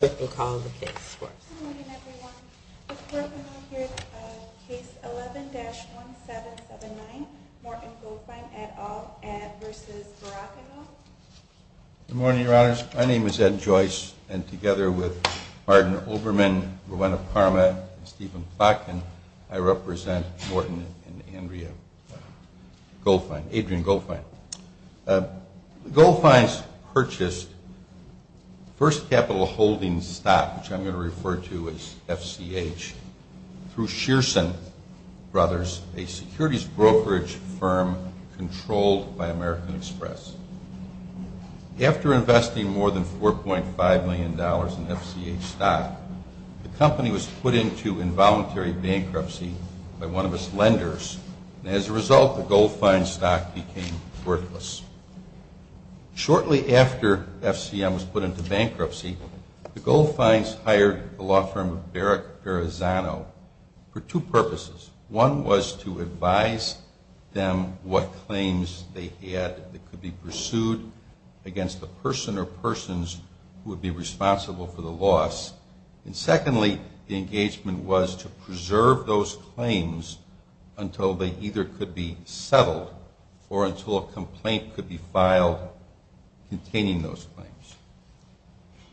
Good morning, Your Honors. My name is Ed Joyce, and together with Martin Olbermann, Rowena Parma, and Stephen Plotkin, I represent Morton and Andrea Goldfine, Adrian Goldfine. Goldfine's purchased First Capital Holdings stock, which I'm going to refer to as FCH, through Shearson Brothers, a securities brokerage firm controlled by American Express. After investing more than $4.5 million in FCH stock, the company was put into involuntary bankruptcy by one of its lenders, and as a result, the Goldfine stock became worthless. Shortly after FCM was put into bankruptcy, the Goldfines hired the law firm of Barack Garazano for two purposes. One was to advise them what claims they had that could be pursued against the person or persons who would be And secondly, the engagement was to preserve those claims until they either could be settled or until a complaint could be filed containing those claims.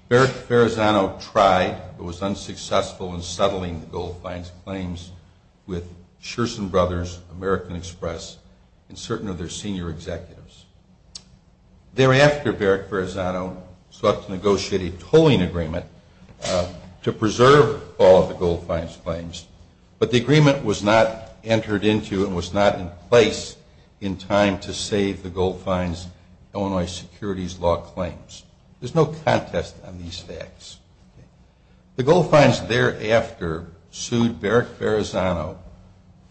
Barack Garazano tried, but was unsuccessful in settling the Goldfine's claims with Shearson Brothers, American Express, and certain of their senior executives. Thereafter, Barack Garazano sought to negotiate a tolling agreement to preserve all of the Goldfine's claims, but the agreement was not entered into and was not in place in time to save the Goldfine's Illinois securities law claims. There's no contest on these facts. The Goldfines thereafter sued Barack Garazano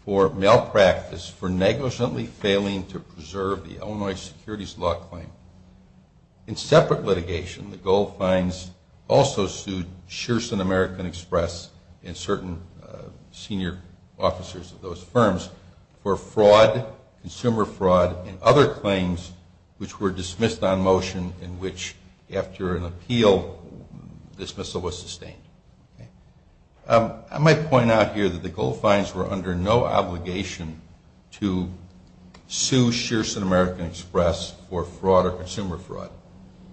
for malpractice, for negligently failing to preserve the Illinois securities law claim. In separate litigation, the Goldfines also sued Shearson American Express and certain senior officers of those firms for fraud, consumer fraud, and other claims which were dismissed on motion in which, after an appeal, dismissal was sustained. I might point out here that the Goldfines were under no obligation to sue Shearson American Express for fraud or consumer fraud.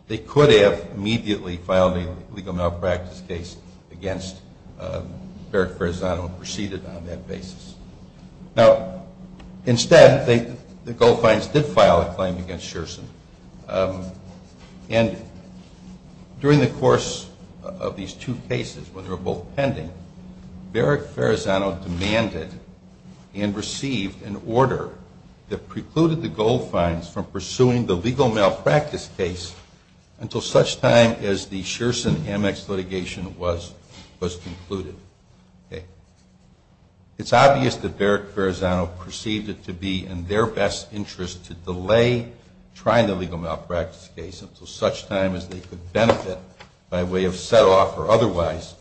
They could have immediately filed a legal malpractice case against Barack Garazano and proceeded on that basis. Now, instead, the Goldfines did file a claim against Shearson. And during the course of these two cases, when they were both pending, Barack Garazano demanded and received an order that precluded the Goldfines from pursuing the legal malpractice case until such time as the Shearson Amex litigation was concluded. It's obvious that trying the legal malpractice case until such time as they could benefit by way of set-off or otherwise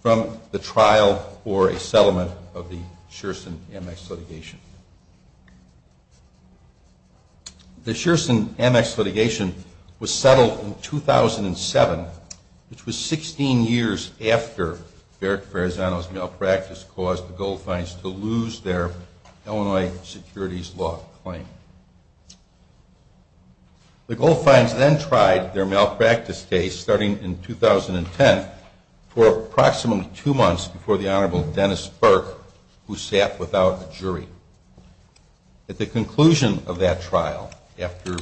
from the trial or a settlement of the Shearson Amex litigation. The Shearson Amex litigation was settled in 2007, which was 16 years after Barack Garazano's malpractice caused the Goldfines to lose their Illinois securities law claim. The Goldfines then tried their malpractice case starting in 2010 for approximately two months before the Honorable Dennis Burke, who sat without a jury. At the conclusion of that trial, after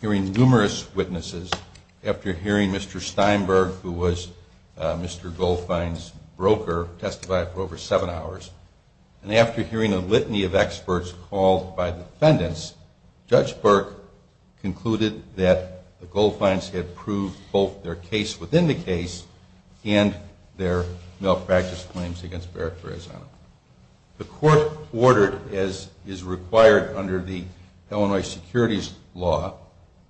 hearing numerous witnesses, after hearing Mr. Steinberg, who was Mr. Goldfine's broker, testify for over seven hours, and after hearing a litany of experts called by defendants, Judge Burke concluded that the Goldfines had proved both their case within the case and their malpractice claims against Barack Garazano. The court ordered, as is required under the Illinois securities law,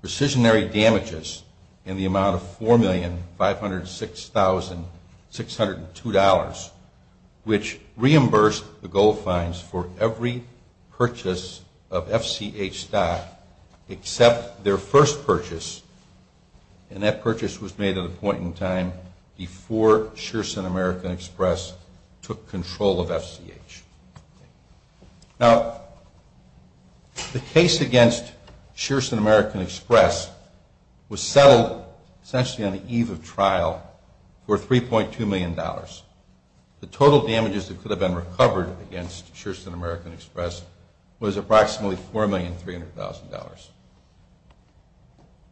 precisionary damages in the amount of $4,506,602, which reimbursed the Goldfines for every purchase of FCH stock except their first purchase, and that purchase was made at a point in time before Shearson American Express took control of FCH. Now, the case against Shearson American Express was settled essentially on the eve of trial for $3.2 million. The total damages that could have been recovered against Shearson American Express was approximately $4,300,000.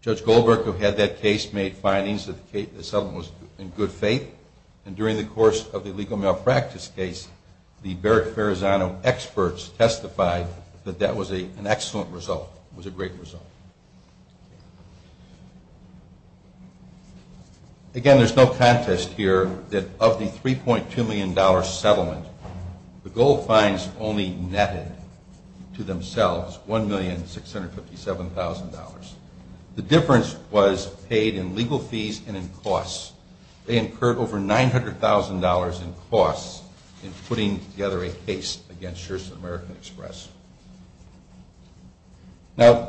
Judge Goldberg, who had that case, made findings that the settlement was in good faith, and during the course of the illegal malpractice case, the Barack Garazano experts testified that that was an excellent result, was a great result. Again, there's no contest here that of the $3.2 million settlement, the Goldfines only netted to themselves $1,657,000. The difference was paid in legal fees and in costs. They incurred over $900,000 in costs in putting together a case against Shearson American Express. Now,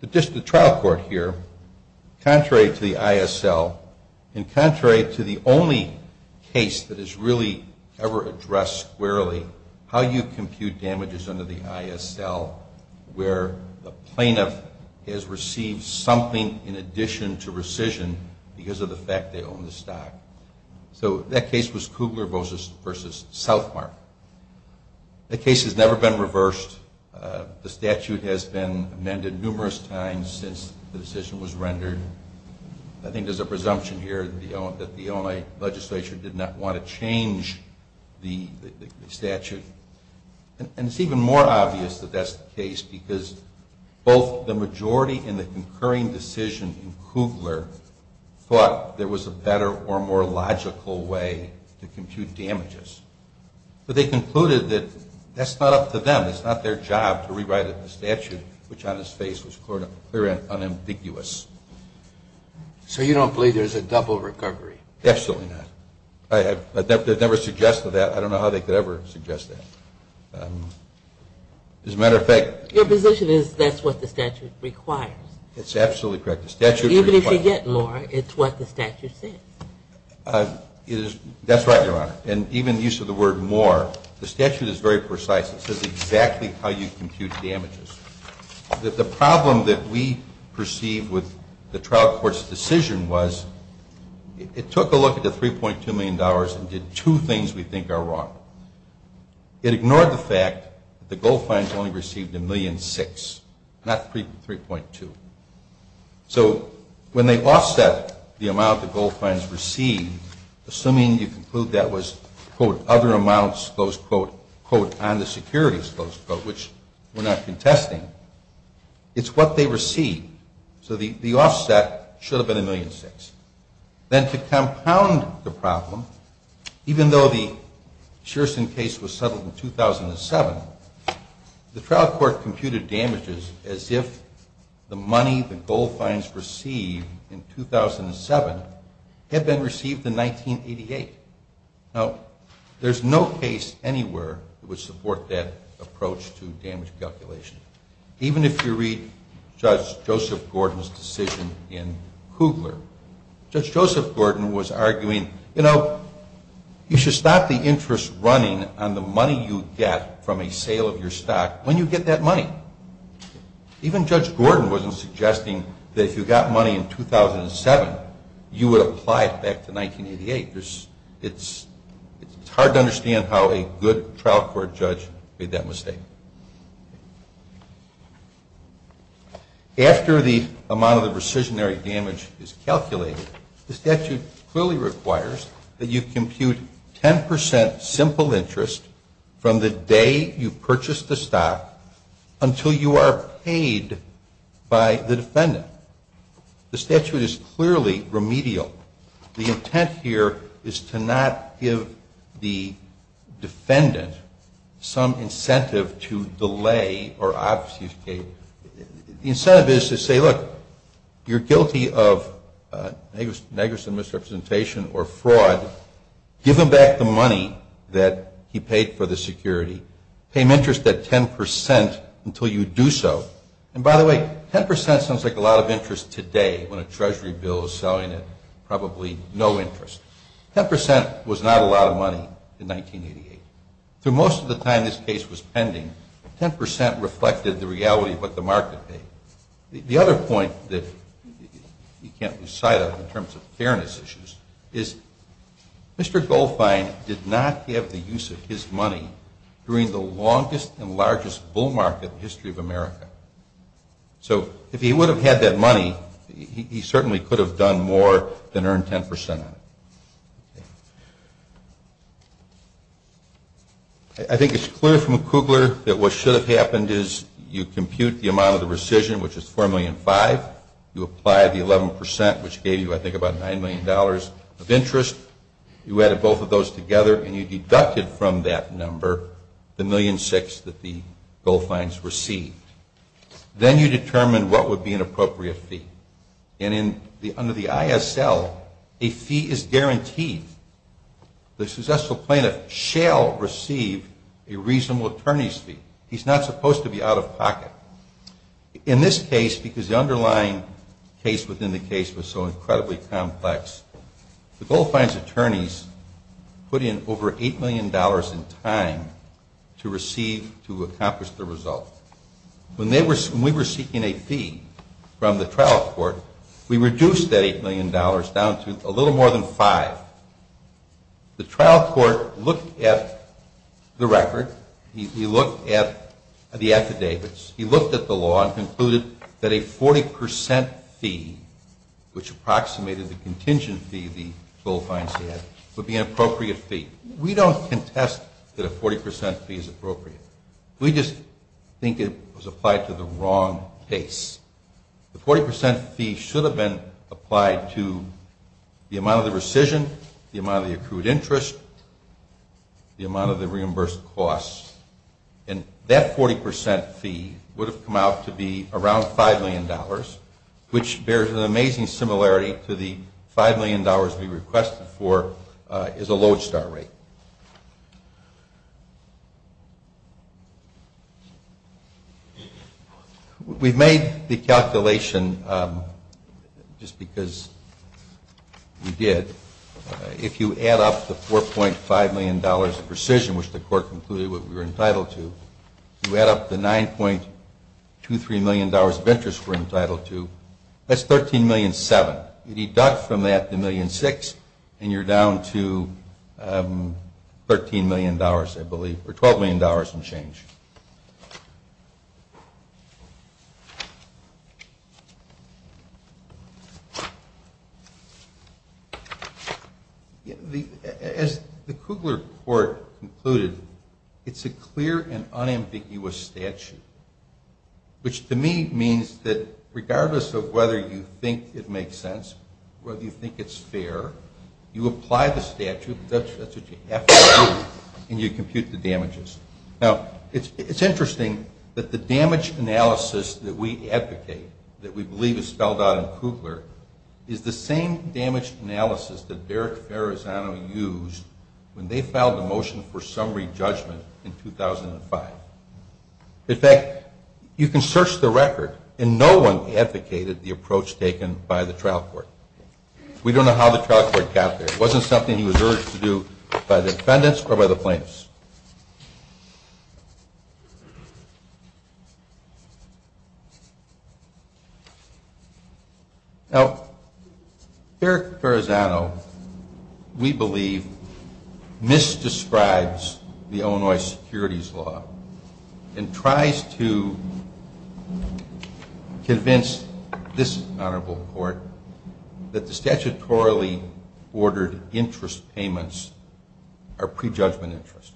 the trial court here, contrary to the ISL and contrary to the only case that is really ever addressed squarely, how you compute damages under the ISL where the plaintiff has received something in addition to rescission because of the fact they own the stock. So that case was Kugler v. Southmark. The case has never been reversed. The statute has been amended numerous times since the decision was rendered. I think there's a presumption here that the Illinois legislature did not want to change the statute. And it's even more obvious that that's the case because both the majority in the concurring decision in Kugler thought there was a better or more logical way to compute damages. But they concluded that that's not up to them. It's not their job to rewrite the statute, which on its face was clear and unambiguous. So you don't believe there's a double recovery? Absolutely not. They've never suggested that. I don't know how they could ever suggest that. As a matter of fact... Your position is that's what the statute requires. It's absolutely correct. The statute requires... Even if you get more, it's what the statute says. That's right, Your Honor. And even the use of the word more, the statute is very precise. It says exactly how you compute damages. The problem that we perceived with the trial court's decision was it took a look at the $3.2 million and did two things we think are wrong. It ignored the fact that the gold fines only received $1.6 million, not $3.2 million. So when they offset the amount the gold fines received, assuming you conclude that was, quote, other amounts, close quote, quote, on the securities, close quote, which we're not contesting, it's what they received. So the offset should have been $1.6 million. Then to compound the problem, even though the Shearson case was settled in 2007, the trial court computed damages as if the money the gold fines received in 2007 had been received in 1988. Now, there's no case anywhere that would support that approach to damage calculation. Even if you read Judge Joseph Gordon's decision in Kugler. Judge Joseph Gordon was arguing, you know, you should stop the interest running on the money you get from a sale of your stock when you get that money. Even Judge Gordon wasn't suggesting that if you got money in 2007, you would apply it back to 1988. It's hard to understand how a good trial court judge made that mistake. After the amount of the precisionary damage is calculated, the statute clearly requires that you compute 10% simple interest from the day you purchased the stock until you are paid by the defendant. The statute is clearly remedial. The intent here is to not give the defendant some incentive to delay or obfuscate. The incentive is to say, look, you're guilty of negligent misrepresentation or fraud. Give him back the money that he paid for the security. Pay him interest at 10% until you do so. And by the way, 10% sounds like a lot of interest today when a Treasury bill is selling at probably no interest. 10% was not a lot of money in 1988. For most of the time this case was pending, 10% reflected the reality of what the market paid. The other point that you can't lose sight of in terms of fairness issues is Mr. Goldfein did not have the use of his money during the longest and largest bull market in the history of America. So if he would have had that money, he certainly could have done more than earned 10% on it. I think it's clear from Kugler that what should have happened is you compute the amount of the rescission, which is $4.5 million. You apply the 11%, which gave you I think about $9 million of interest. You added both of those together and you deducted from that number the $1.6 million that the Goldfeins received. Then you determine what would be an appropriate fee. Under the ISL, a fee is guaranteed. The successful plaintiff shall receive a reasonable attorney's fee. He's not supposed to be out of pocket. In this case, because the underlying case within the case was so incredibly complex, the Goldfeins attorneys put in over $8 million in time to receive, to accomplish the result. When we were seeking a fee from the trial court, we reduced that $8 million down to a little more than five. The trial court looked at the record. He looked at the affidavits. He looked at the law and concluded that a 40% fee, which approximated the contingent fee the Goldfeins had, would be an appropriate fee. We don't contest that a 40% fee is appropriate. We just think it was applied to the wrong case. The 40% fee should have been applied to the amount of the rescission, the amount of the accrued interest, the amount of the reimbursed costs, and that 40% fee would have come out to be around $5 million, which bears an amazing similarity to the $5 million we requested for as a lodestar rate. We've made the calculation just because we did. If you add up the $4.5 million of rescission, which the court concluded we were entitled to, if you add up the $9.23 million of interest we're entitled to, that's $13.7 million. You deduct from that the $1.6 million, and you're down to $13 million, I believe, or $12 million and change. As the Kugler court concluded, it's a clear and unambiguous statute, which to me means that regardless of whether you think it makes sense, whether you think it's fair, you apply the statute, that's what you have to do, and you compute the damages. Now, it's interesting that the damage analysis that we advocate, that we believe is spelled out in Kugler, is the same damage analysis that Derek Farazano used when they filed the motion for summary judgment in 2005. In fact, you can search the record, and no one advocated the approach taken by the trial court. We don't know how the trial court got there. It wasn't something he was urged to do by the defendants or by the plaintiffs. Now, Derek Farazano, we believe, misdescribes the Illinois securities law and tries to convince this honorable court that the statutorily ordered interest payments are prejudgment interest.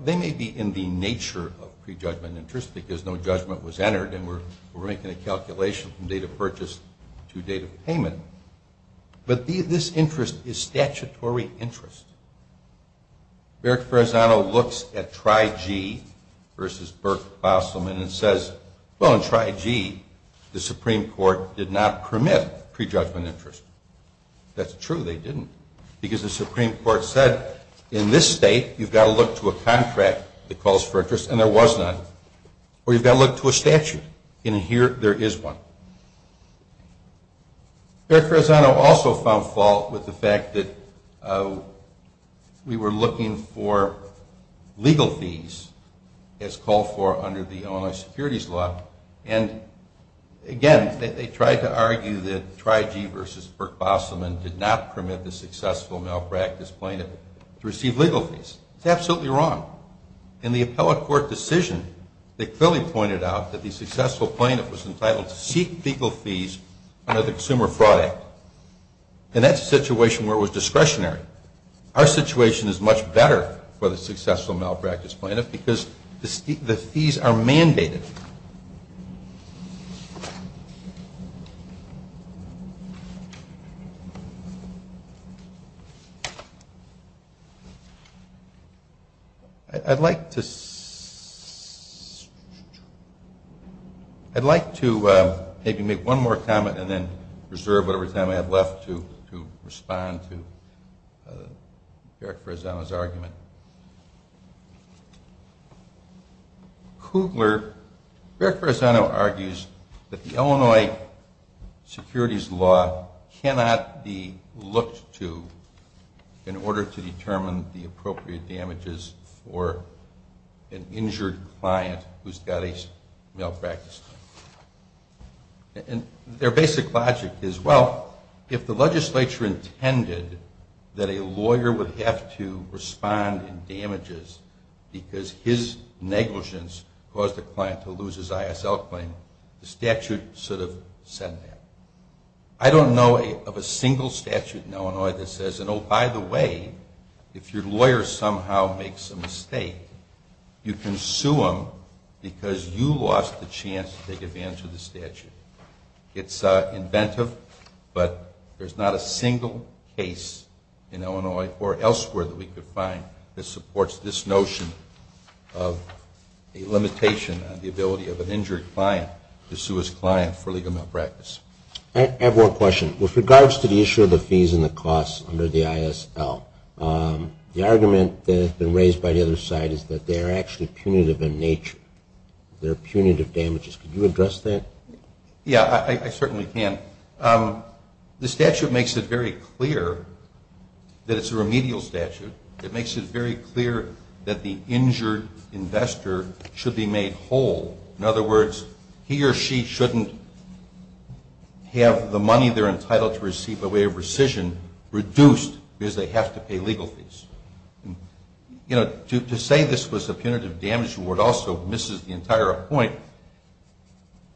They may be in the nature of prejudgment interest because no judgment was entered and we're making a calculation from date of purchase to date of payment, but this interest is statutory interest. Derek Farazano looks at TRI-G versus Burke-Fossilman and says, well, in TRI-G, the Supreme Court did not permit prejudgment interest. That's true, they didn't. Because the Supreme Court said in this state, you've got to look to a contract that calls for interest, and there was none. Or you've got to look to a statute, and here there is one. Derek Farazano also found fault with the fact that we were looking for legal fees as called for under the Illinois securities law, and, again, they tried to argue that TRI-G versus Burke-Fossilman did not permit the successful malpractice plaintiff to receive legal fees. It's absolutely wrong. In the appellate court decision, they clearly pointed out that the successful plaintiff was entitled to seek legal fees under the Consumer Fraud Act, and that's a situation where it was discretionary. Our situation is much better for the successful malpractice plaintiff because the fees are mandated. I'd like to maybe make one more comment and then reserve whatever time I have left to respond to Derek Farazano's argument. Derek Farazano argues that the Illinois securities law cannot be looked to in order to determine the appropriate damages for an injured client who's got a malpractice claim. Their basic logic is, well, if the legislature intended that a lawyer would have to respond in damages because his negligence caused the client to lose his ISL claim, the statute should have said that. I don't know of a single statute in Illinois that says, oh, by the way, if your lawyer somehow makes a mistake, you can sue him because you lost the chance to take advantage of the statute. It's inventive, but there's not a single case in Illinois or elsewhere that we could find that supports this notion of a limitation on the ability of an injured client to sue his client for legal malpractice. I have one question. With regards to the issue of the fees and the costs under the ISL, the argument that has been raised by the other side is that they're actually punitive in nature. They're punitive damages. Could you address that? Yeah, I certainly can. The statute makes it very clear that it's a remedial statute. It makes it very clear that the injured investor should be made whole. In other words, he or she shouldn't have the money they're entitled to receive by way of rescission reduced because they have to pay legal fees. You know, to say this was a punitive damage award also misses the entire point.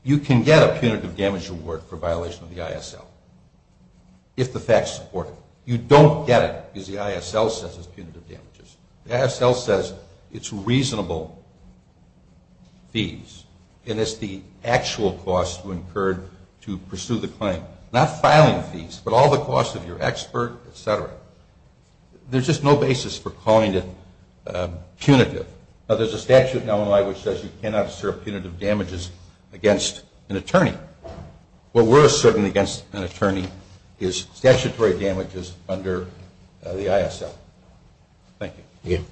You can get a punitive damage award for violation of the ISL if the facts support it. You don't get it because the ISL says it's punitive damages. The ISL says it's reasonable fees, and it's the actual cost to incur to pursue the claim. Not filing fees, but all the costs of your expert, et cetera. There's just no basis for calling it punitive. Now, there's a statute in Illinois which says you cannot assert punitive damages against an attorney. What we're asserting against an attorney is statutory damages under the ISL. Thank you. Thank you. Thank you.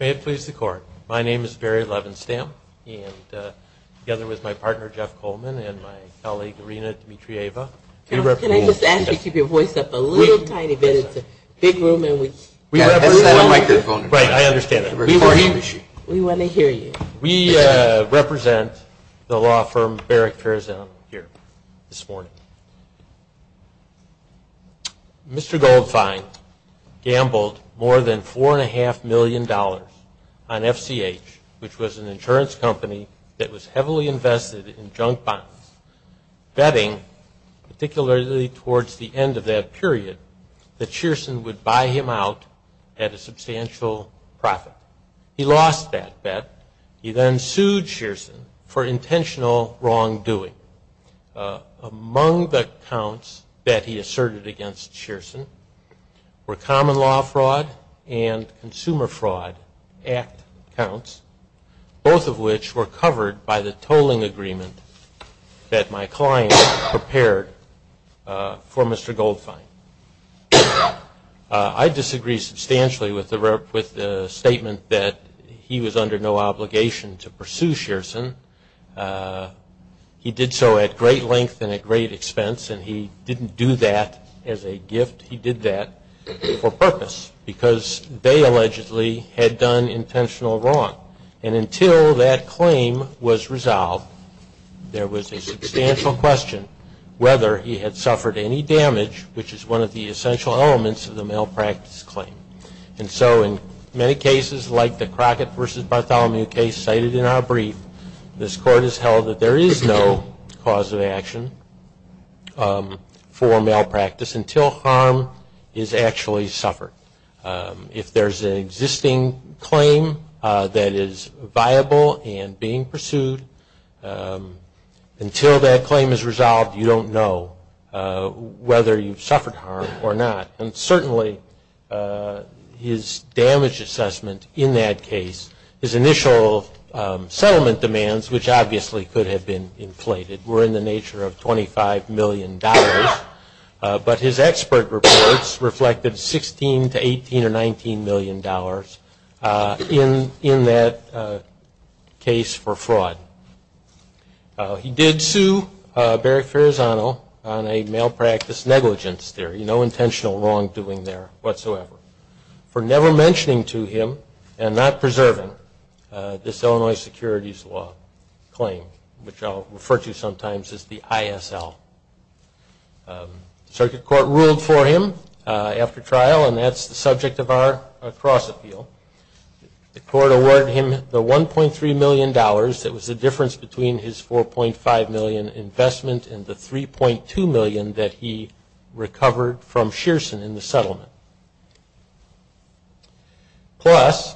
May it please the Court, my name is Barry Levenstam, and together with my partner, Jeff Coleman, and my colleague, Rena Dimitrieva. Can I just ask you to keep your voice up a little tiny bit? It's a big room, and we have to set up a microphone. Right, I understand that. We want to hear you. We represent the law firm Barrick Fairzell here this morning. Mr. Goldfein gambled more than $4.5 million on FCH, which was an insurance company that was heavily invested in junk bonds, betting, particularly towards the end of that period, that Shearson would buy him out at a substantial profit. He lost that bet. He then sued Shearson for intentional wrongdoing. Among the counts that he asserted against Shearson were common law fraud and consumer fraud act counts, both of which were covered by the tolling agreement that my client prepared for Mr. Goldfein. I disagree substantially with the statement that he was under no obligation to pursue Shearson. He did so at great length and at great expense, and he didn't do that as a gift. He did that for purpose because they allegedly had done intentional wrong. And until that claim was resolved, there was a substantial question whether he had suffered any damage, which is one of the essential elements of the malpractice claim. And so in many cases, like the Crockett v. Bartholomew case cited in our brief, this Court has held that there is no cause of action for malpractice until harm is actually suffered. If there's an existing claim that is viable and being pursued, until that claim is resolved, you don't know whether you've suffered harm or not. And certainly his damage assessment in that case, his initial settlement demands, which obviously could have been inflated, were in the nature of $25 million. But his expert reports reflected $16 to $18 or $19 million in that case for fraud. He did sue Barrick Ferrazano on a malpractice negligence theory, no intentional wrongdoing there whatsoever, for never mentioning to him and not preserving this Illinois securities law claim, which I'll refer to sometimes as the ISL. Circuit Court ruled for him after trial, and that's the subject of our cross-appeal. The Court awarded him the $1.3 million that was the difference between his $4.5 million investment and the $3.2 million that he recovered from Shearson in the settlement, plus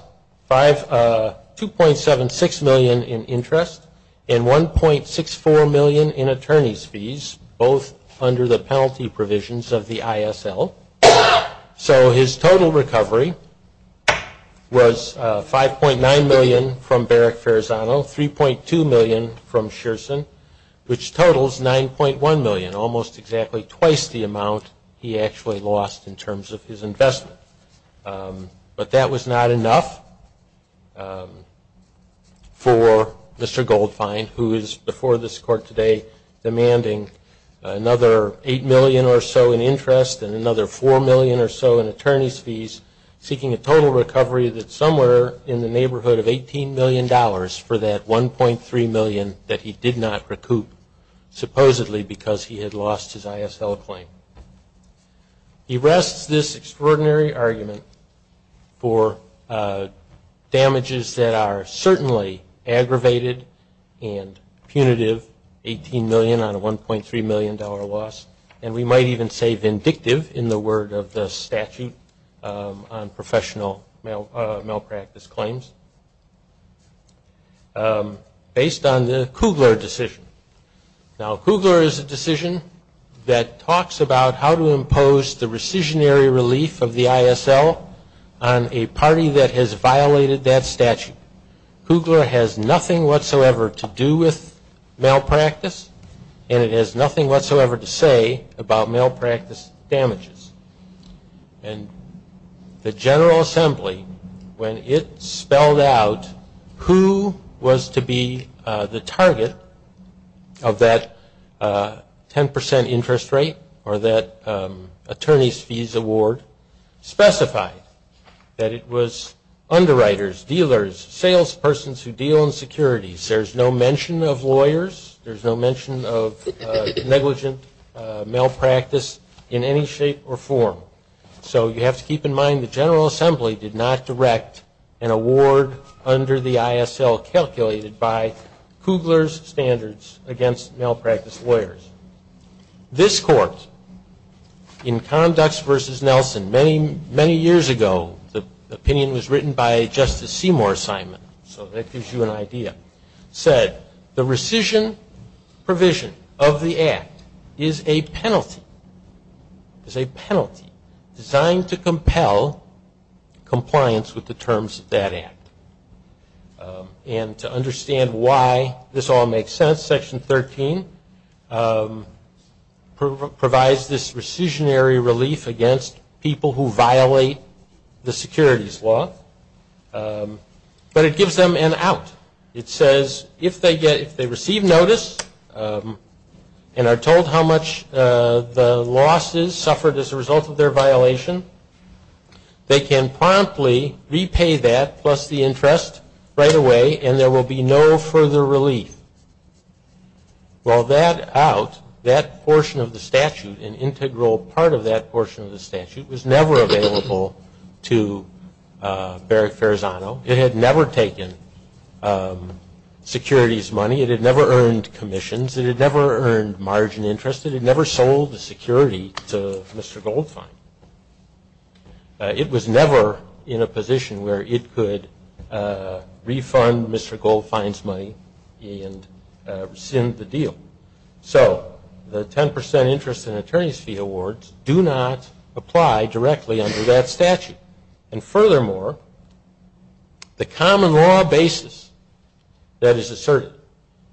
$2.76 million in interest and $1.64 million in attorney's fees, both under the penalty provisions of the ISL. So his total recovery was $5.9 million from Barrick Ferrazano, $3.2 million from Shearson, which totals $9.1 million, almost exactly twice the amount he actually lost in terms of his investment. But that was not enough for Mr. Goldfein, who is before this Court today demanding another $8 million or so in interest and another $4 million or so in attorney's fees, seeking a total recovery that's somewhere in the neighborhood of $18 million for that $1.3 million that he did not recoup supposedly because he had lost his ISL claim. He rests this extraordinary argument for damages that are certainly aggravated and punitive, $18 million on a $1.3 million loss, and we might even say vindictive in the word of the statute on professional malpractice claims, based on the Kugler decision. Now, Kugler is a decision that talks about how to impose the rescissionary relief of the ISL on a party that has violated that statute. Kugler has nothing whatsoever to do with malpractice, and it has nothing whatsoever to say about malpractice damages. And the General Assembly, when it spelled out who was to be the target of that 10 percent interest rate or that attorney's fees award, specified that it was underwriters, dealers, salespersons who deal in securities. There's no mention of lawyers. There's no mention of negligent malpractice in any shape or form. So you have to keep in mind the General Assembly did not direct an award under the ISL calculated by Kugler's standards against malpractice lawyers. This court, in Conducts v. Nelson, many, many years ago, the opinion was written by Justice Seymour, Simon, so that gives you an idea, said the rescission provision of the Act is a penalty, is a penalty designed to compel compliance with the terms of that Act. And to understand why this all makes sense, Section 13 provides this rescissionary relief against people who violate the securities law, but it gives them an out. It says if they receive notice and are told how much the loss is suffered as a result of their violation, they can promptly repay that plus the interest right away and there will be no further relief. Well, that out, that portion of the statute, an integral part of that portion of the statute was never available to Barrick Farazano. It had never taken securities money. It had never earned commissions. It had never earned margin interest. It had never sold the security to Mr. Goldfein. It was never in a position where it could refund Mr. Goldfein's money and rescind the deal. So the 10 percent interest in attorney's fee awards do not apply directly under that statute. And furthermore, the common law basis that is asserted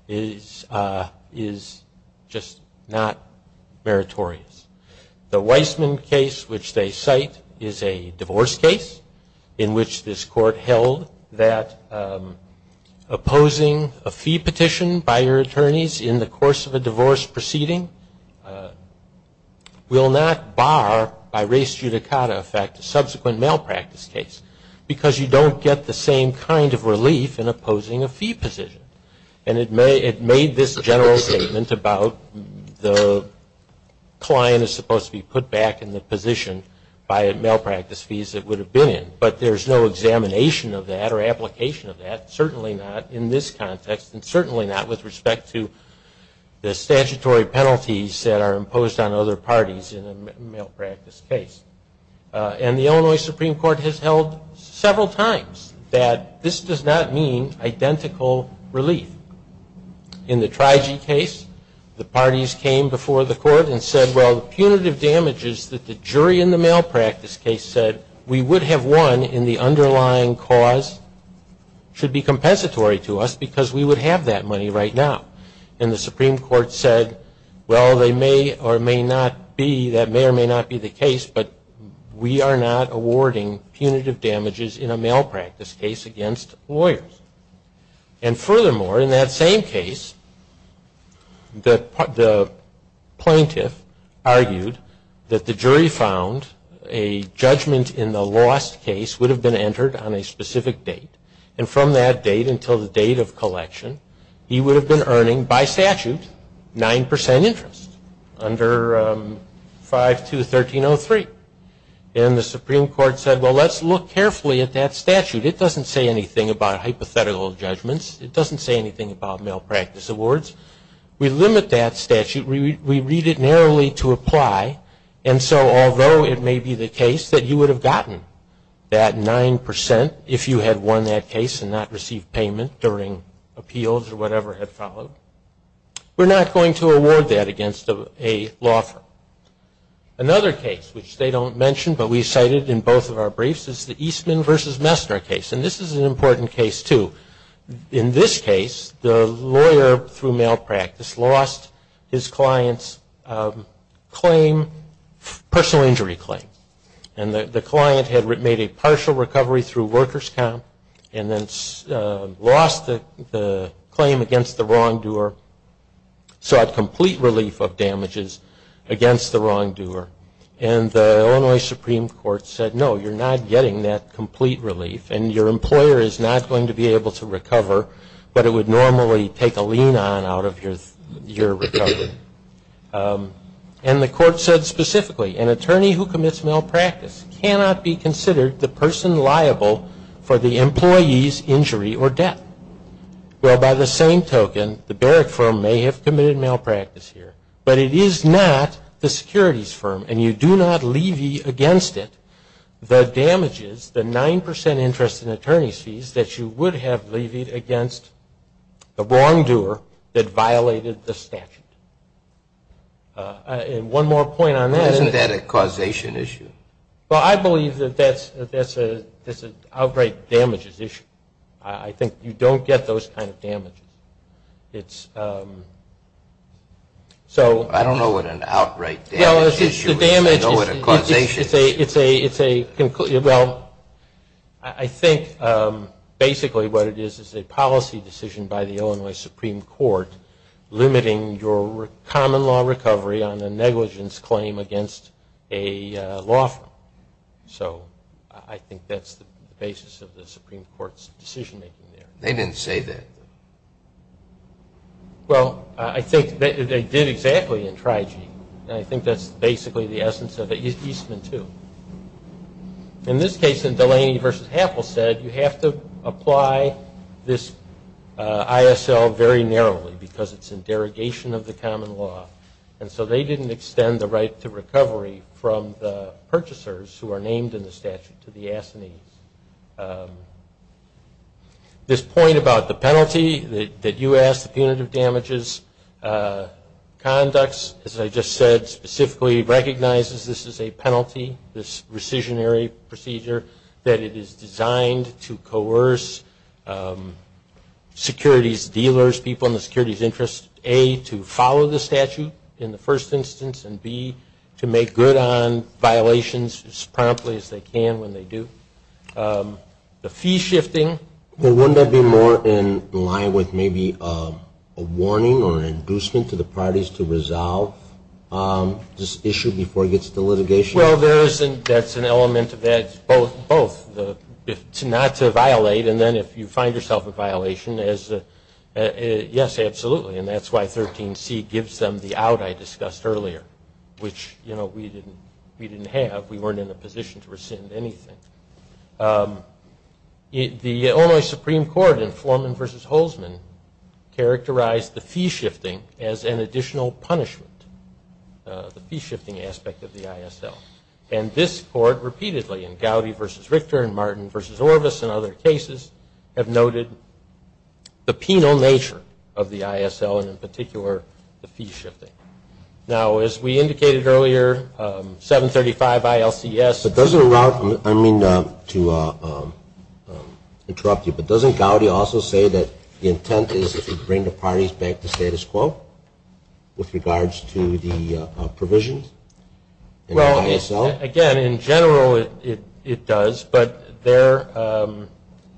is just not meritorious. The Weissman case, which they cite, is a divorce case in which this court held that opposing a fee petition by your attorneys in the course of a divorce proceeding will not bar by res judicata effect a subsequent malpractice case because you don't get the same kind of relief in opposing a fee petition. And it made this general statement about the client is supposed to be put back in the position by malpractice fees it would have been in, but there's no examination of that or application of that, certainly not in this context, and certainly not with respect to the statutory penalties that are imposed on other parties in a malpractice case. And the Illinois Supreme Court has held several times that this does not mean identical relief. In the Triji case, the parties came before the court and said, well, the punitive damages that the jury in the malpractice case said we would have won in the underlying cause should be compensatory to us because we would have that money right now. And the Supreme Court said, well, they may or may not be, that may or may not be the case, but we are not awarding punitive damages in a malpractice case against lawyers. And furthermore, in that same case, the plaintiff argued that the jury found a judgment in the lost case would have been entered on a specific date, and from that date until the date of collection, he would have been earning by statute 9% interest under 5213.03. And the Supreme Court said, well, let's look carefully at that statute. It doesn't say anything about hypothetical judgments. It doesn't say anything about malpractice awards. We limit that statute. We read it narrowly to apply, and so although it may be the case that you would have gotten that 9% if you had won that case and not received payment during appeals or whatever had followed, we're not going to award that against a law firm. Another case, which they don't mention but we cited in both of our briefs, is the Eastman v. Messner case, and this is an important case, too. In this case, the lawyer, through malpractice, lost his client's claim, personal injury claim, and the client had made a partial recovery through workers' comp and then lost the claim against the wrongdoer, sought complete relief of damages against the wrongdoer. And the Illinois Supreme Court said, no, you're not getting that complete relief, and your employer is not going to be able to recover, but it would normally take a lien on out of your recovery. And the court said specifically, an attorney who commits malpractice cannot be considered the person liable for the employee's injury or debt. Well, by the same token, the Barrick firm may have committed malpractice here, but it is not the securities firm, and you do not levy against it the damages, the 9% interest in attorney's fees that you would have levied against the wrongdoer that violated the statute. And one more point on that. Isn't that a causation issue? Well, I believe that that's an outright damages issue. I think you don't get those kind of damages. I don't know what an outright damages issue is. I know what a causation is. Well, I think basically what it is is a policy decision by the Illinois Supreme Court limiting your common law recovery on a negligence claim against a law firm. So I think that's the basis of the Supreme Court's decision-making there. They didn't say that. Well, I think they did exactly in TRIG, and I think that's basically the essence of Eastman II. In this case, Delaney v. Happel said you have to apply this ISL very narrowly because it's in derogation of the common law. And so they didn't extend the right to recovery from the purchasers who are named in the statute to the assinees. This point about the penalty that you asked, the punitive damages conducts, as I just said, specifically recognizes this is a penalty, this rescissionary procedure, that it is designed to coerce securities dealers, people in the securities interest, A, to follow the statute in the first instance, and B, to make good on violations as promptly as they can when they do. The fee shifting. Well, wouldn't that be more in line with maybe a warning or an inducement to the parties to resolve this issue before it gets to litigation? Well, that's an element that's both. Not to violate, and then if you find yourself a violation, yes, absolutely, and that's why 13C gives them the out I discussed earlier, which we didn't have. We weren't in a position to rescind anything. The Illinois Supreme Court in Florman v. Holtzman characterized the fee shifting as an additional punishment, the fee shifting aspect of the ISL. And this court repeatedly in Gowdy v. Richter and Martin v. Orvis and other cases have noted the penal nature of the ISL and, in particular, the fee shifting. Now, as we indicated earlier, 735 ILCS. But does it allow, I mean, to interrupt you, but doesn't Gowdy also say that the intent is to bring the parties back to status quo with regards to the provisions? Well, again, in general, it does. But there,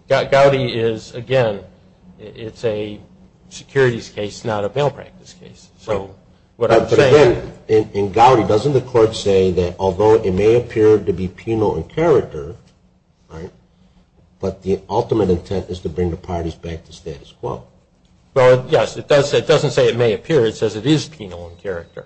Gowdy is, again, it's a securities case, not a bail practice case. So what I'm saying – But again, in Gowdy, doesn't the court say that although it may appear to be penal in character, right, but the ultimate intent is to bring the parties back to status quo? Well, yes, it does. It doesn't say it may appear. It says it is penal in character,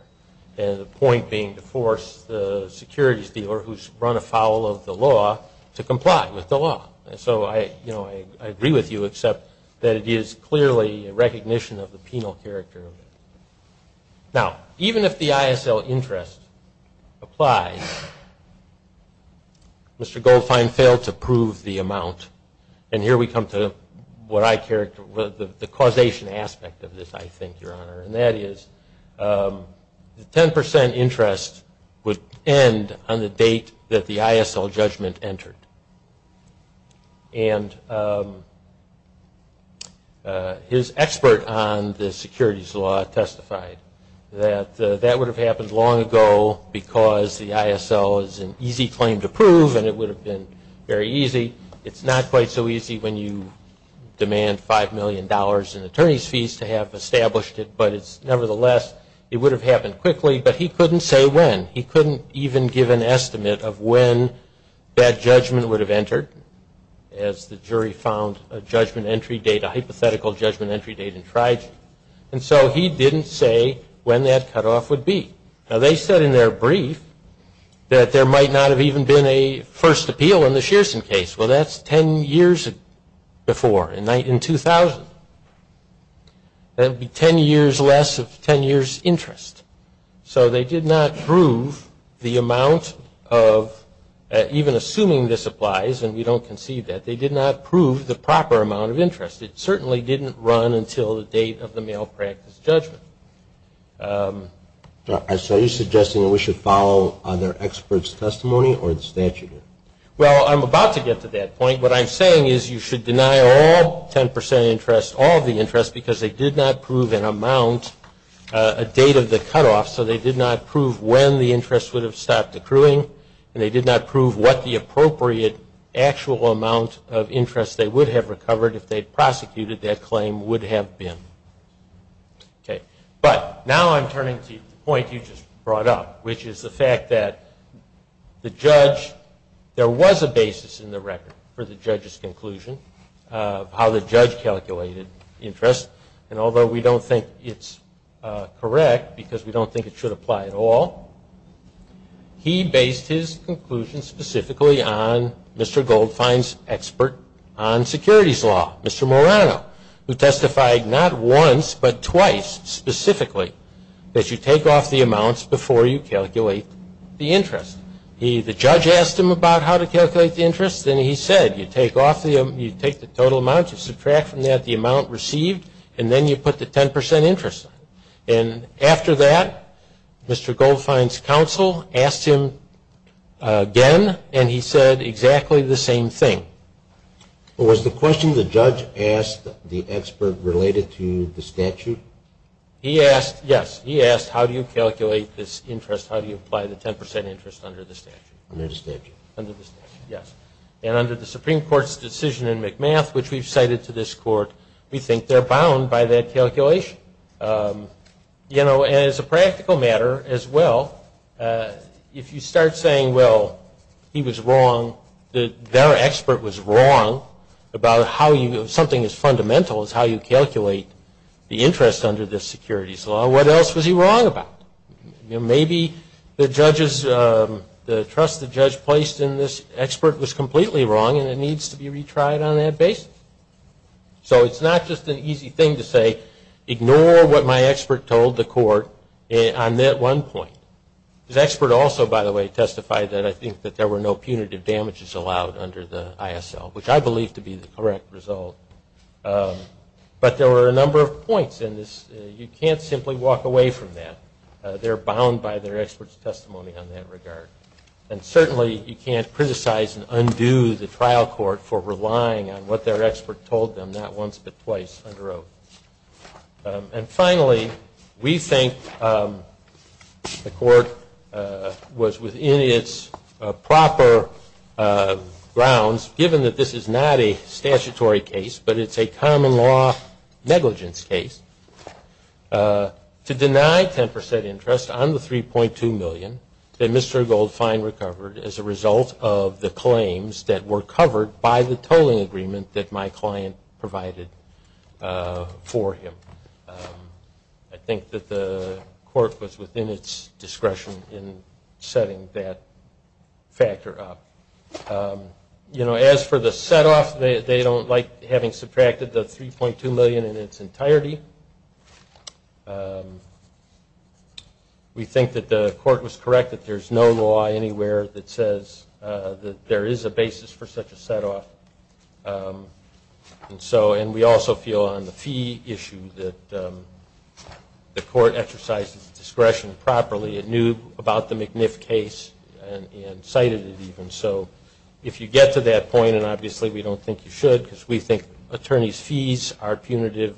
and the point being to force the securities dealer who's run afoul of the law to comply with the law. So, you know, I agree with you, except that it is clearly a recognition of the penal character. Now, even if the ISL interest applies, Mr. Goldfein failed to prove the amount. And here we come to what I – the causation aspect of this, I think, Your Honor. And that is the 10 percent interest would end on the date that the ISL judgment entered. And his expert on the securities law testified that that would have happened long ago because the ISL is an easy claim to prove and it would have been very easy. It's not quite so easy when you demand $5 million in attorney's fees to have established it, but it's – nevertheless, it would have happened quickly, but he couldn't say when. He couldn't even give an estimate of when that judgment would have entered, as the jury found a judgment entry date, a hypothetical judgment entry date, and tried. And so he didn't say when that cutoff would be. Now, they said in their brief that there might not have even been a first appeal in the Shearson case. Well, that's 10 years before, in 2000. That would be 10 years less of 10 years' interest. So they did not prove the amount of – even assuming this applies, and we don't conceive that, they did not prove the proper amount of interest. It certainly didn't run until the date of the malpractice judgment. So are you suggesting that we should follow their expert's testimony or the statute? Well, I'm about to get to that point. What I'm saying is you should deny all 10 percent interest, all the interest, because they did not prove an amount, a date of the cutoff, so they did not prove when the interest would have stopped accruing, and they did not prove what the appropriate actual amount of interest they would have recovered if they had prosecuted that claim would have been. But now I'm turning to the point you just brought up, which is the fact that the judge – there was a basis in the record for the judge's conclusion of how the judge calculated interest, and although we don't think it's correct because we don't think it should apply at all, he based his conclusion specifically on Mr. Goldfein's expert on securities law, Mr. Morano, who testified not once but twice specifically that you take off the amounts before you calculate the interest. The judge asked him about how to calculate the interest, and he said you take the total amount, you subtract from that the amount received, and then you put the 10 percent interest on it. And after that, Mr. Goldfein's counsel asked him again, and he said exactly the same thing. Was the question the judge asked the expert related to the statute? Yes. He asked how do you calculate this interest, how do you apply the 10 percent interest under the statute. Under the statute. Under the statute, yes. And under the Supreme Court's decision in McMath, which we've cited to this court, we think they're bound by that calculation. You know, as a practical matter as well, if you start saying, well, he was wrong, their expert was wrong about how something as fundamental as how you calculate the interest under this securities law, what else was he wrong about? You know, maybe the trust the judge placed in this expert was completely wrong, and it needs to be retried on that basis. So it's not just an easy thing to say, ignore what my expert told the court on that one point. This expert also, by the way, testified that I think that there were no punitive damages allowed under the ISL, which I believe to be the correct result. But there were a number of points in this. You can't simply walk away from that. They're bound by their expert's testimony on that regard. And certainly you can't criticize and undo the trial court for relying on what their expert told them, not once but twice, under oath. And finally, we think the court was within its proper grounds, given that this is not a statutory case, but it's a common law negligence case, to deny 10 percent interest on the $3.2 million that Mr. Goldfein recovered as a result of the claims that were covered by the tolling agreement that my client provided for him. I think that the court was within its discretion in setting that factor up. You know, as for the set-off, they don't like having subtracted the $3.2 million in its entirety. We think that the court was correct that there's no law anywhere that says that there is a basis for such a set-off. And we also feel on the fee issue that the court exercised its discretion properly. It knew about the McNiff case and cited it even. So if you get to that point, and obviously we don't think you should, because we think attorneys' fees are punitive,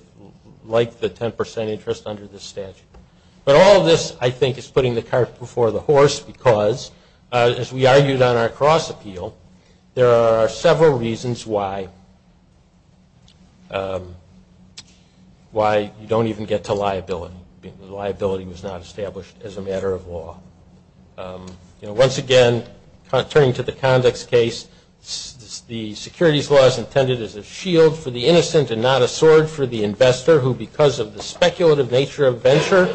like the 10 percent interest under this statute. But all of this, I think, is putting the cart before the horse, because, as we argued on our cross-appeal, there are several reasons why you don't even get to liability. The liability was not established as a matter of law. You know, once again, turning to the convex case, the securities law is intended as a shield for the innocent and not a sword for the investor who, because of the speculative nature of venture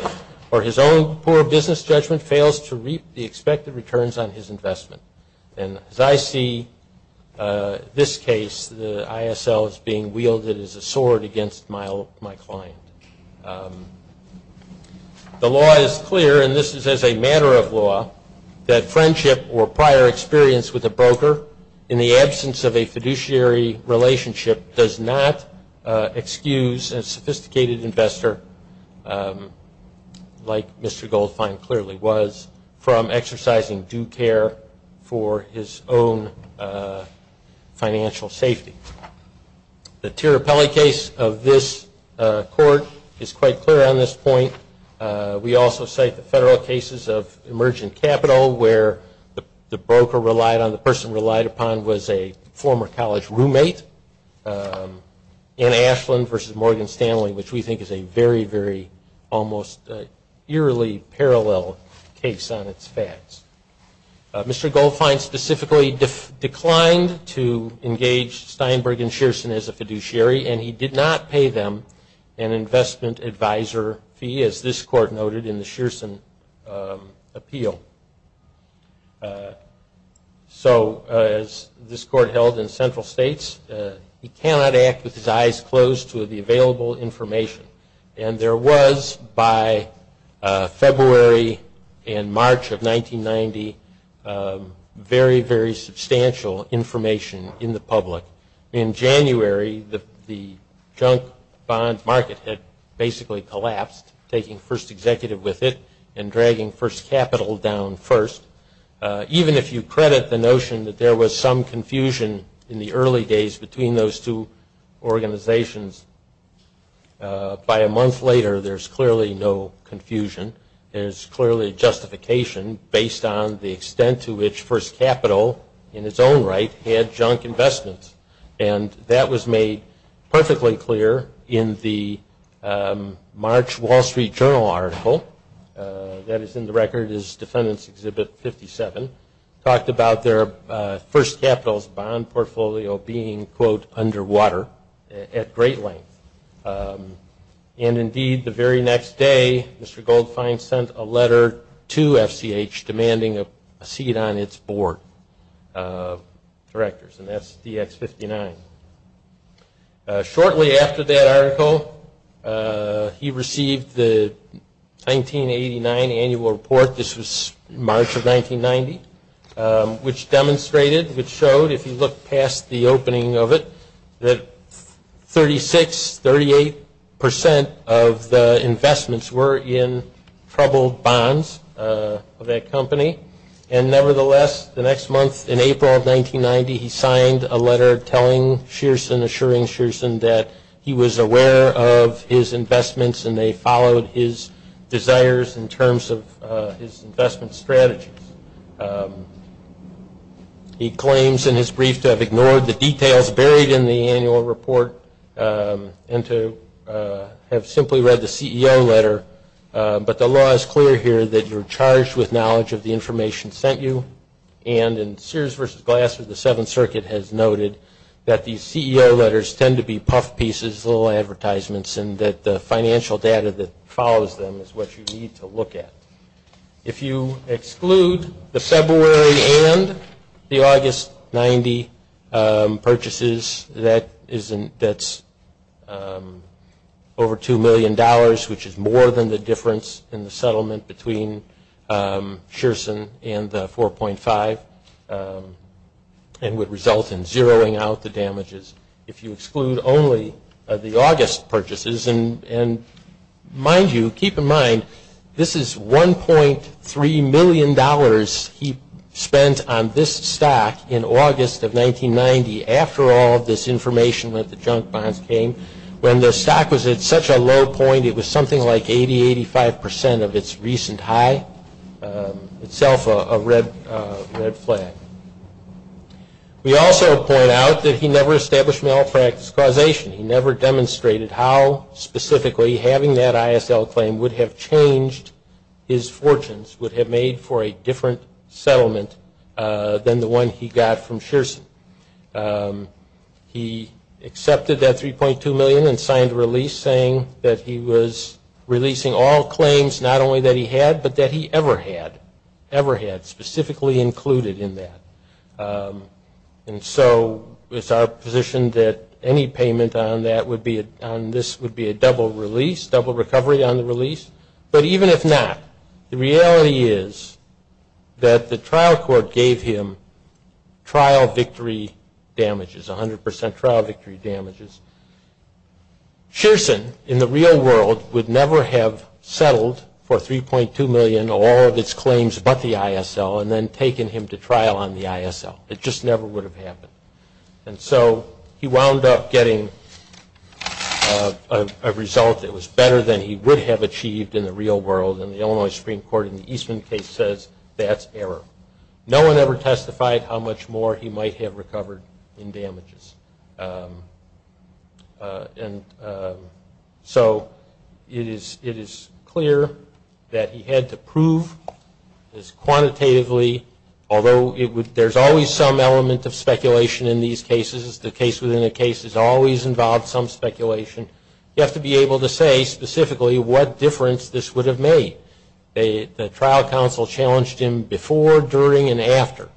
or his own poor business judgment, fails to reap the expected returns on his investment. And as I see this case, the ISL is being wielded as a sword against my client. The law is clear, and this is as a matter of law, that friendship or prior experience with a broker in the absence of a fiduciary relationship does not excuse a sophisticated investor, like Mr. Goldfein clearly was, from exercising due care for his own financial safety. The Tirrapelli case of this court is quite clear on this point. We also cite the federal cases of emergent capital, where the broker relied on the person relied upon was a former college roommate, Ann Ashland versus Morgan Stanley, which we think is a very, very almost eerily parallel case on its facts. Mr. Goldfein specifically declined to engage Steinberg and Shearson as a fiduciary, and he did not pay them an investment advisor fee, as this court noted in the Shearson appeal. So as this court held in central states, he cannot act with his eyes closed to the available information. And there was, by February and March of 1990, very, very substantial information in the public. In January, the junk bond market had basically collapsed, taking first executive with it and dragging first capital down first. Even if you credit the notion that there was some confusion in the early days between those two organizations, by a month later there's clearly no confusion. There's clearly justification based on the extent to which first capital, in its own right, had junk investments. And that was made perfectly clear in the March Wall Street Journal article. That is in the record as Defendant's Exhibit 57, talked about their first capital's bond portfolio being, quote, underwater at great length. And indeed, the very next day, Mr. Goldfein sent a letter to FCH demanding a seat on its board of directors, and that's DX-59. Shortly after that article, he received the 1989 annual report. This was March of 1990, which demonstrated, which showed, if you look past the opening of it, that 36, 38 percent of the investments were in troubled bonds of that company. And nevertheless, the next month, in April of 1990, he signed a letter telling Shearson, assuring Shearson that he was aware of his investments and they followed his desires in terms of his investment strategies. He claims in his brief to have ignored the details buried in the annual report and to have simply read the CEO letter. But the law is clear here that you're charged with knowledge of the information sent you. And in Sears v. Glasser, the Seventh Circuit has noted that these CEO letters tend to be puff pieces, little advertisements, and that the financial data that follows them is what you need to look at. If you exclude the February and the August 90 purchases, that's over $2 million, which is more than the difference in the settlement between Shearson and the 4.5 and would result in zeroing out the damages if you exclude only the August purchases. And mind you, keep in mind, this is $1.3 million he spent on this stock in August of 1990. After all this information with the junk bonds came, when the stock was at such a low point, it was something like 80, 85 percent of its recent high, itself a red flag. We also point out that he never established malpractice causation. He never demonstrated how specifically having that ISL claim would have changed his fortunes, would have made for a different settlement than the one he got from Shearson. He accepted that $3.2 million and signed a release saying that he was releasing all claims, not only that he had, but that he ever had, ever had, specifically included in that. And so it's our position that any payment on this would be a double release, double recovery on the release. But even if not, the reality is that the trial court gave him trial victory damages, 100 percent trial victory damages. Shearson, in the real world, would never have settled for $3.2 million of all of its claims but the ISL and then taken him to trial on the ISL. It just never would have happened. And so he wound up getting a result that was better than he would have achieved in the real world and the Illinois Supreme Court in the Eastman case says that's error. No one ever testified how much more he might have recovered in damages. So it is clear that he had to prove as quantitatively, although there's always some element of speculation in these cases. The case within a case is always involved some speculation. You have to be able to say specifically what difference this would have made. The trial counsel challenged him before, during, and after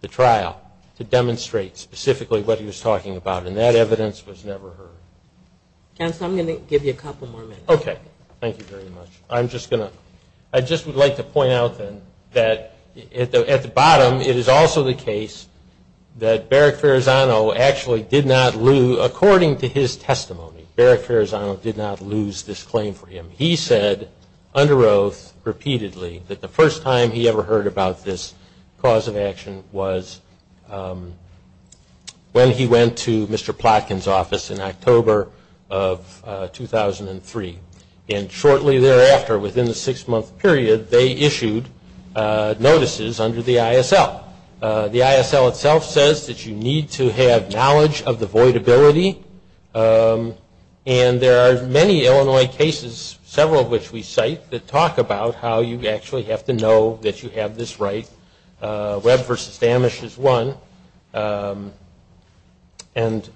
the trial to demonstrate specifically what he was talking about and that evidence was never heard. Counsel, I'm going to give you a couple more minutes. Okay. Thank you very much. I just would like to point out then that at the bottom, it is also the case that Barak Farazano actually did not lose, according to his testimony, Barak Farazano did not lose this claim for him. He said under oath repeatedly that the first time he ever heard about this cause of action was when he went to Mr. Plotkin's office in October of 2003. And shortly thereafter, within the six-month period, they issued notices under the ISL. The ISL itself says that you need to have knowledge of the voidability. And there are many Illinois cases, several of which we cite, that talk about how you actually have to know that you have this right. Webb v. Damisch is one. And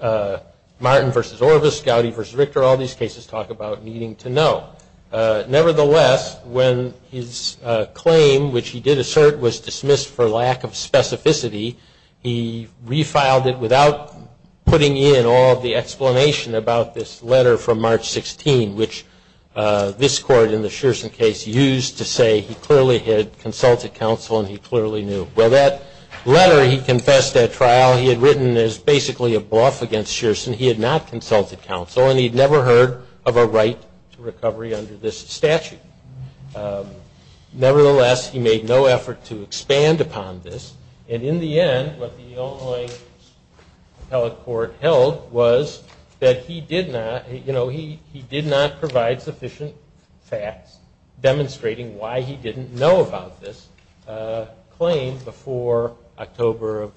Martin v. Orvis, Gowdy v. Richter, all these cases talk about needing to know. Nevertheless, when his claim, which he did assert, was dismissed for lack of specificity, he refiled it without putting in all of the explanation about this letter from March 16, which this court in the Shearson case used to say he clearly had consulted counsel and he clearly knew. Well, that letter he confessed at trial he had written is basically a bluff against Shearson. He had not consulted counsel, and he had never heard of a right to recovery under this statute. Nevertheless, he made no effort to expand upon this. And in the end, what the Illinois appellate court held was that he did not provide sufficient facts demonstrating why he didn't know about this claim before October of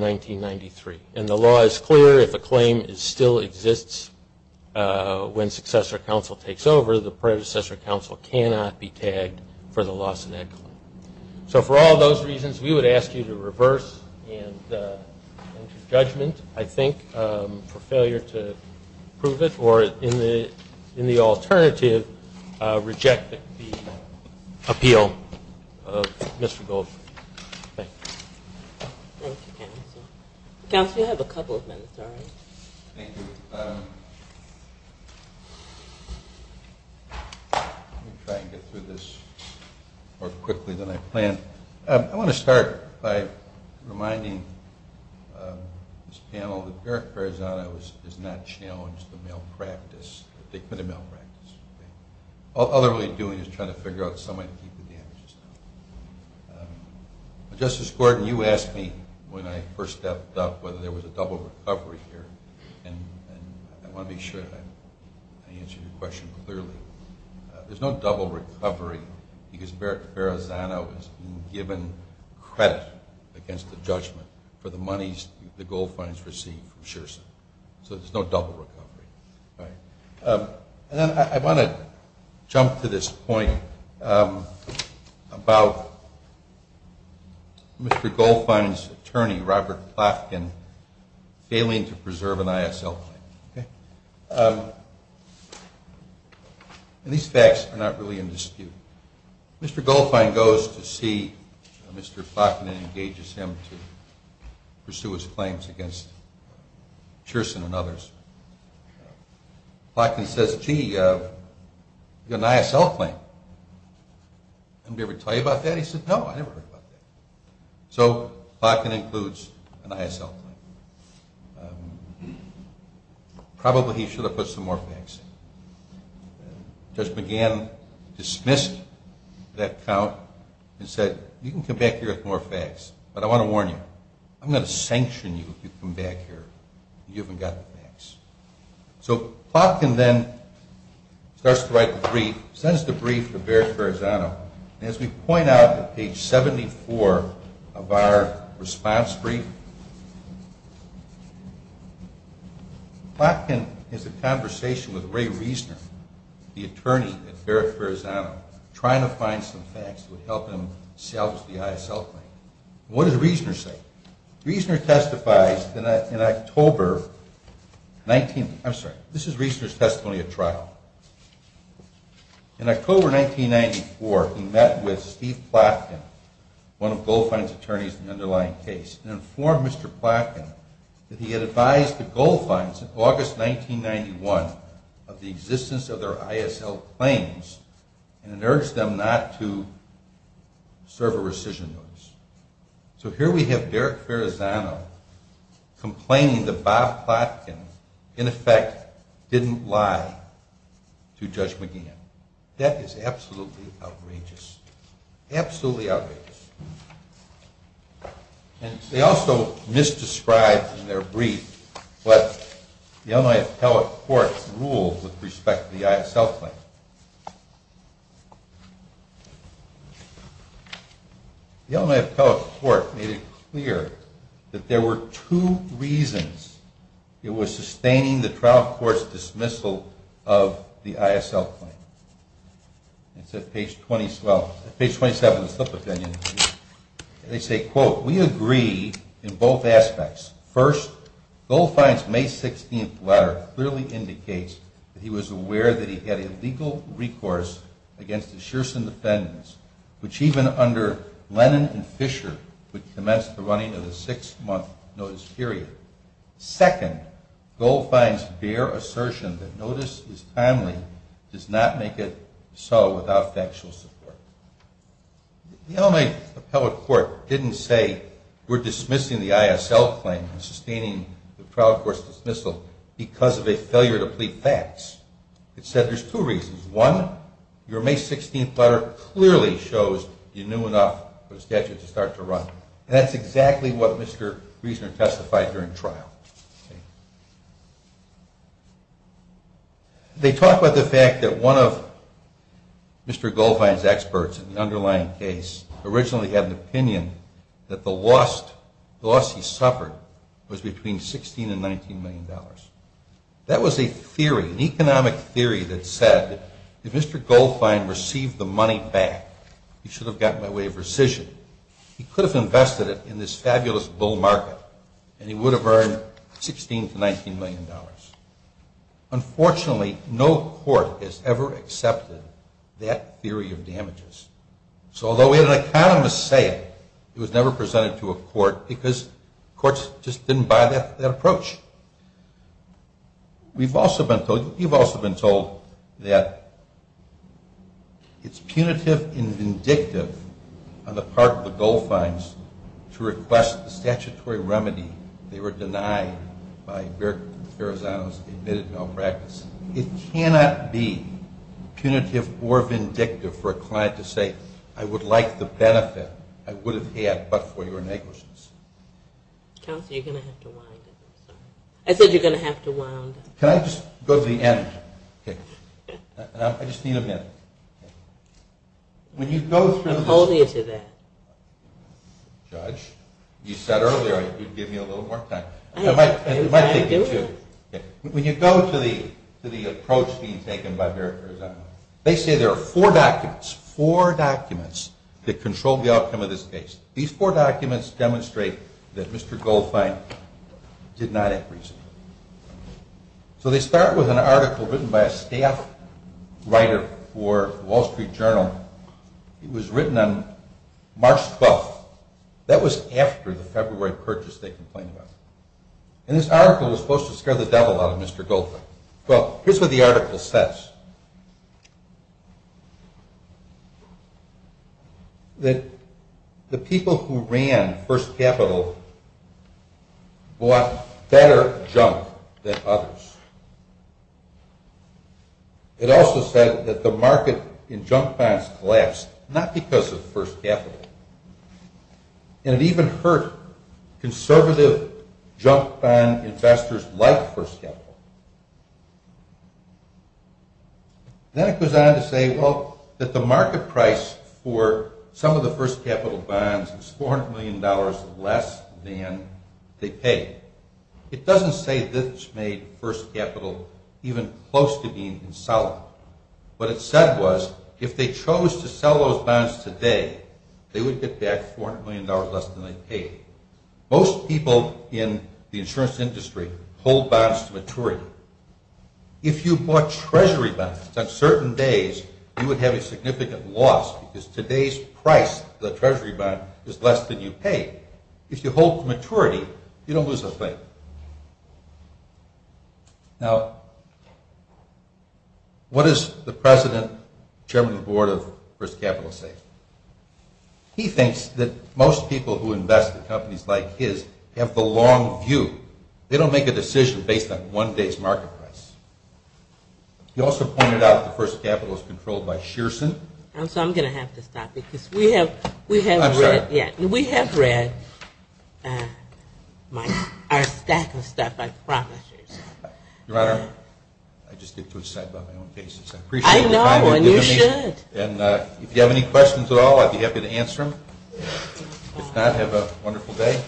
1993. And the law is clear. If a claim still exists when successor counsel takes over, the predecessor counsel cannot be tagged for the loss of that claim. So for all those reasons, we would ask you to reverse judgment, I think, for failure to prove it, or in the alternative, reject the appeal of Mr. Goldberg. Thank you. Thank you, counsel. Counsel, you have a couple of minutes, all right? Thank you. Let me try and get through this more quickly than I planned. I want to start by reminding this panel that Barrett-Ferrazzano has not challenged the malpractice, the acquitted malpractice. All they're really doing is trying to figure out some way to keep the damages down. Justice Gordon, you asked me when I first stepped up whether there was a double recovery here, and I want to be sure that I answered your question clearly. There's no double recovery because Barrett-Ferrazzano has been given credit against the judgment for the monies the Goldfines received from Sherson. So there's no double recovery. And then I want to jump to this point about Mr. Goldfine's attorney, Robert Plotkin, failing to preserve an ISL claim. And these facts are not really in dispute. Mr. Goldfine goes to see Mr. Plotkin and engages him to pursue his claims against Sherson and others. Plotkin says, gee, you've got an ISL claim. Did anybody ever tell you about that? He said, no, I never heard about that. So Plotkin includes an ISL claim. Probably he should have put some more facts in. Judge McGann dismissed that count and said, you can come back here with more facts, but I want to warn you, I'm going to sanction you if you come back here and you haven't got the facts. So Plotkin then starts to write the brief, sends the brief to Barrett-Ferrazzano, and as we point out at page 74 of our response brief, Plotkin has a conversation with Ray Reisner, the attorney at Barrett-Ferrazzano, trying to find some facts that would help him salvage the ISL claim. What does Reisner say? Reisner testifies in October 19th. I'm sorry, this is Reisner's testimony at trial. In October 1994, he met with Steve Plotkin, one of Goldfein's attorneys in the underlying case, and informed Mr. Plotkin that he had advised the Goldfeins in August 1991 of the existence of their ISL claims and urged them not to serve a rescission notice. So here we have Barrett-Ferrazzano complaining that Bob Plotkin, in effect, didn't lie to Judge McGeehan. That is absolutely outrageous. And they also misdescribe in their brief what the Illinois appellate court ruled with respect to the ISL claim. The Illinois appellate court made it clear that there were two reasons it was sustaining the trial court's dismissal of the ISL claim. It's at page 27 of the slip of the pen. They say, quote, we agree in both aspects. First, Goldfein's May 16th letter clearly indicates that he was aware that he had a legal recourse against the Shearson defendants, which even under Lennon and Fisher would commence the running of the six-month notice period. Second, Goldfein's bare assertion that notice is timely does not make it so without factual support. The Illinois appellate court didn't say we're dismissing the ISL claim and sustaining the trial court's dismissal because of a failure to plead facts. It said there's two reasons. One, your May 16th letter clearly shows you knew enough for the statute to start to run. That's exactly what Mr. Riesner testified during trial. They talk about the fact that one of Mr. Goldfein's experts in the underlying case originally had an opinion that the loss he suffered was between $16 and $19 million. That was a theory, an economic theory that said if Mr. Goldfein received the money back, he should have gotten away with rescission. He could have invested it in this fabulous bull market, and he would have earned $16 to $19 million. Unfortunately, no court has ever accepted that theory of damages. So although we had an economist say it, it was never presented to a court because courts just didn't buy that approach. We've also been told, you've also been told, that it's punitive and vindictive on the part of the Goldfeins to request a statutory remedy. They were denied by Eric Ferrazano's admitted malpractice. It cannot be punitive or vindictive for a client to say, I would like the benefit I would have had but for your negligence. Counsel, you're going to have to wind up. I said you're going to have to wind up. Can I just go to the end? I just need a minute. I'm holding you to that. Judge, you said earlier you'd give me a little more time. I'm trying to do it. When you go to the approach being taken by Eric Ferrazano, they say there are four documents, four documents that control the outcome of this case. These four documents demonstrate that Mr. Goldfein did not have reason. So they start with an article written by a staff writer for the Wall Street Journal. It was written on March 12th. That was after the February purchase they complained about. And this article was supposed to scare the devil out of Mr. Goldfein. Well, here's what the article says. That the people who ran First Capital bought better junk than others. It also said that the market in junk bonds collapsed, not because of First Capital. And it even hurt conservative junk bond investors like First Capital. Then it goes on to say, well, that the market price for some of the First Capital bonds is $400 million less than they paid. It doesn't say this made First Capital even close to being insolvent. What it said was if they chose to sell those bonds today, they would get back $400 million less than they paid. Most people in the insurance industry hold bonds to maturity. If you bought Treasury bonds on certain days, you would have a significant loss because today's price for the Treasury bond is less than you paid. If you hold to maturity, you don't lose a thing. Now, what does the President, Chairman of the Board of First Capital say? He thinks that most people who invest in companies like his have the long view. They don't make a decision based on one day's market price. He also pointed out that First Capital is controlled by Shearson. So I'm going to have to stop because we have read our stack of stuff, I promise you. Your Honor, I just did it to excite my own patience. I know, and you should. And if you have any questions at all, I'd be happy to answer them. If not, have a wonderful day.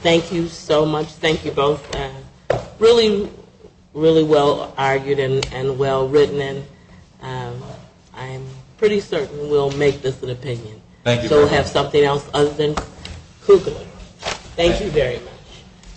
Thank you so much. Thank you both. Really, really well argued and well written. I'm pretty certain we'll make this an opinion. Thank you very much. So we'll have something else other than Kugler. Thank you very much.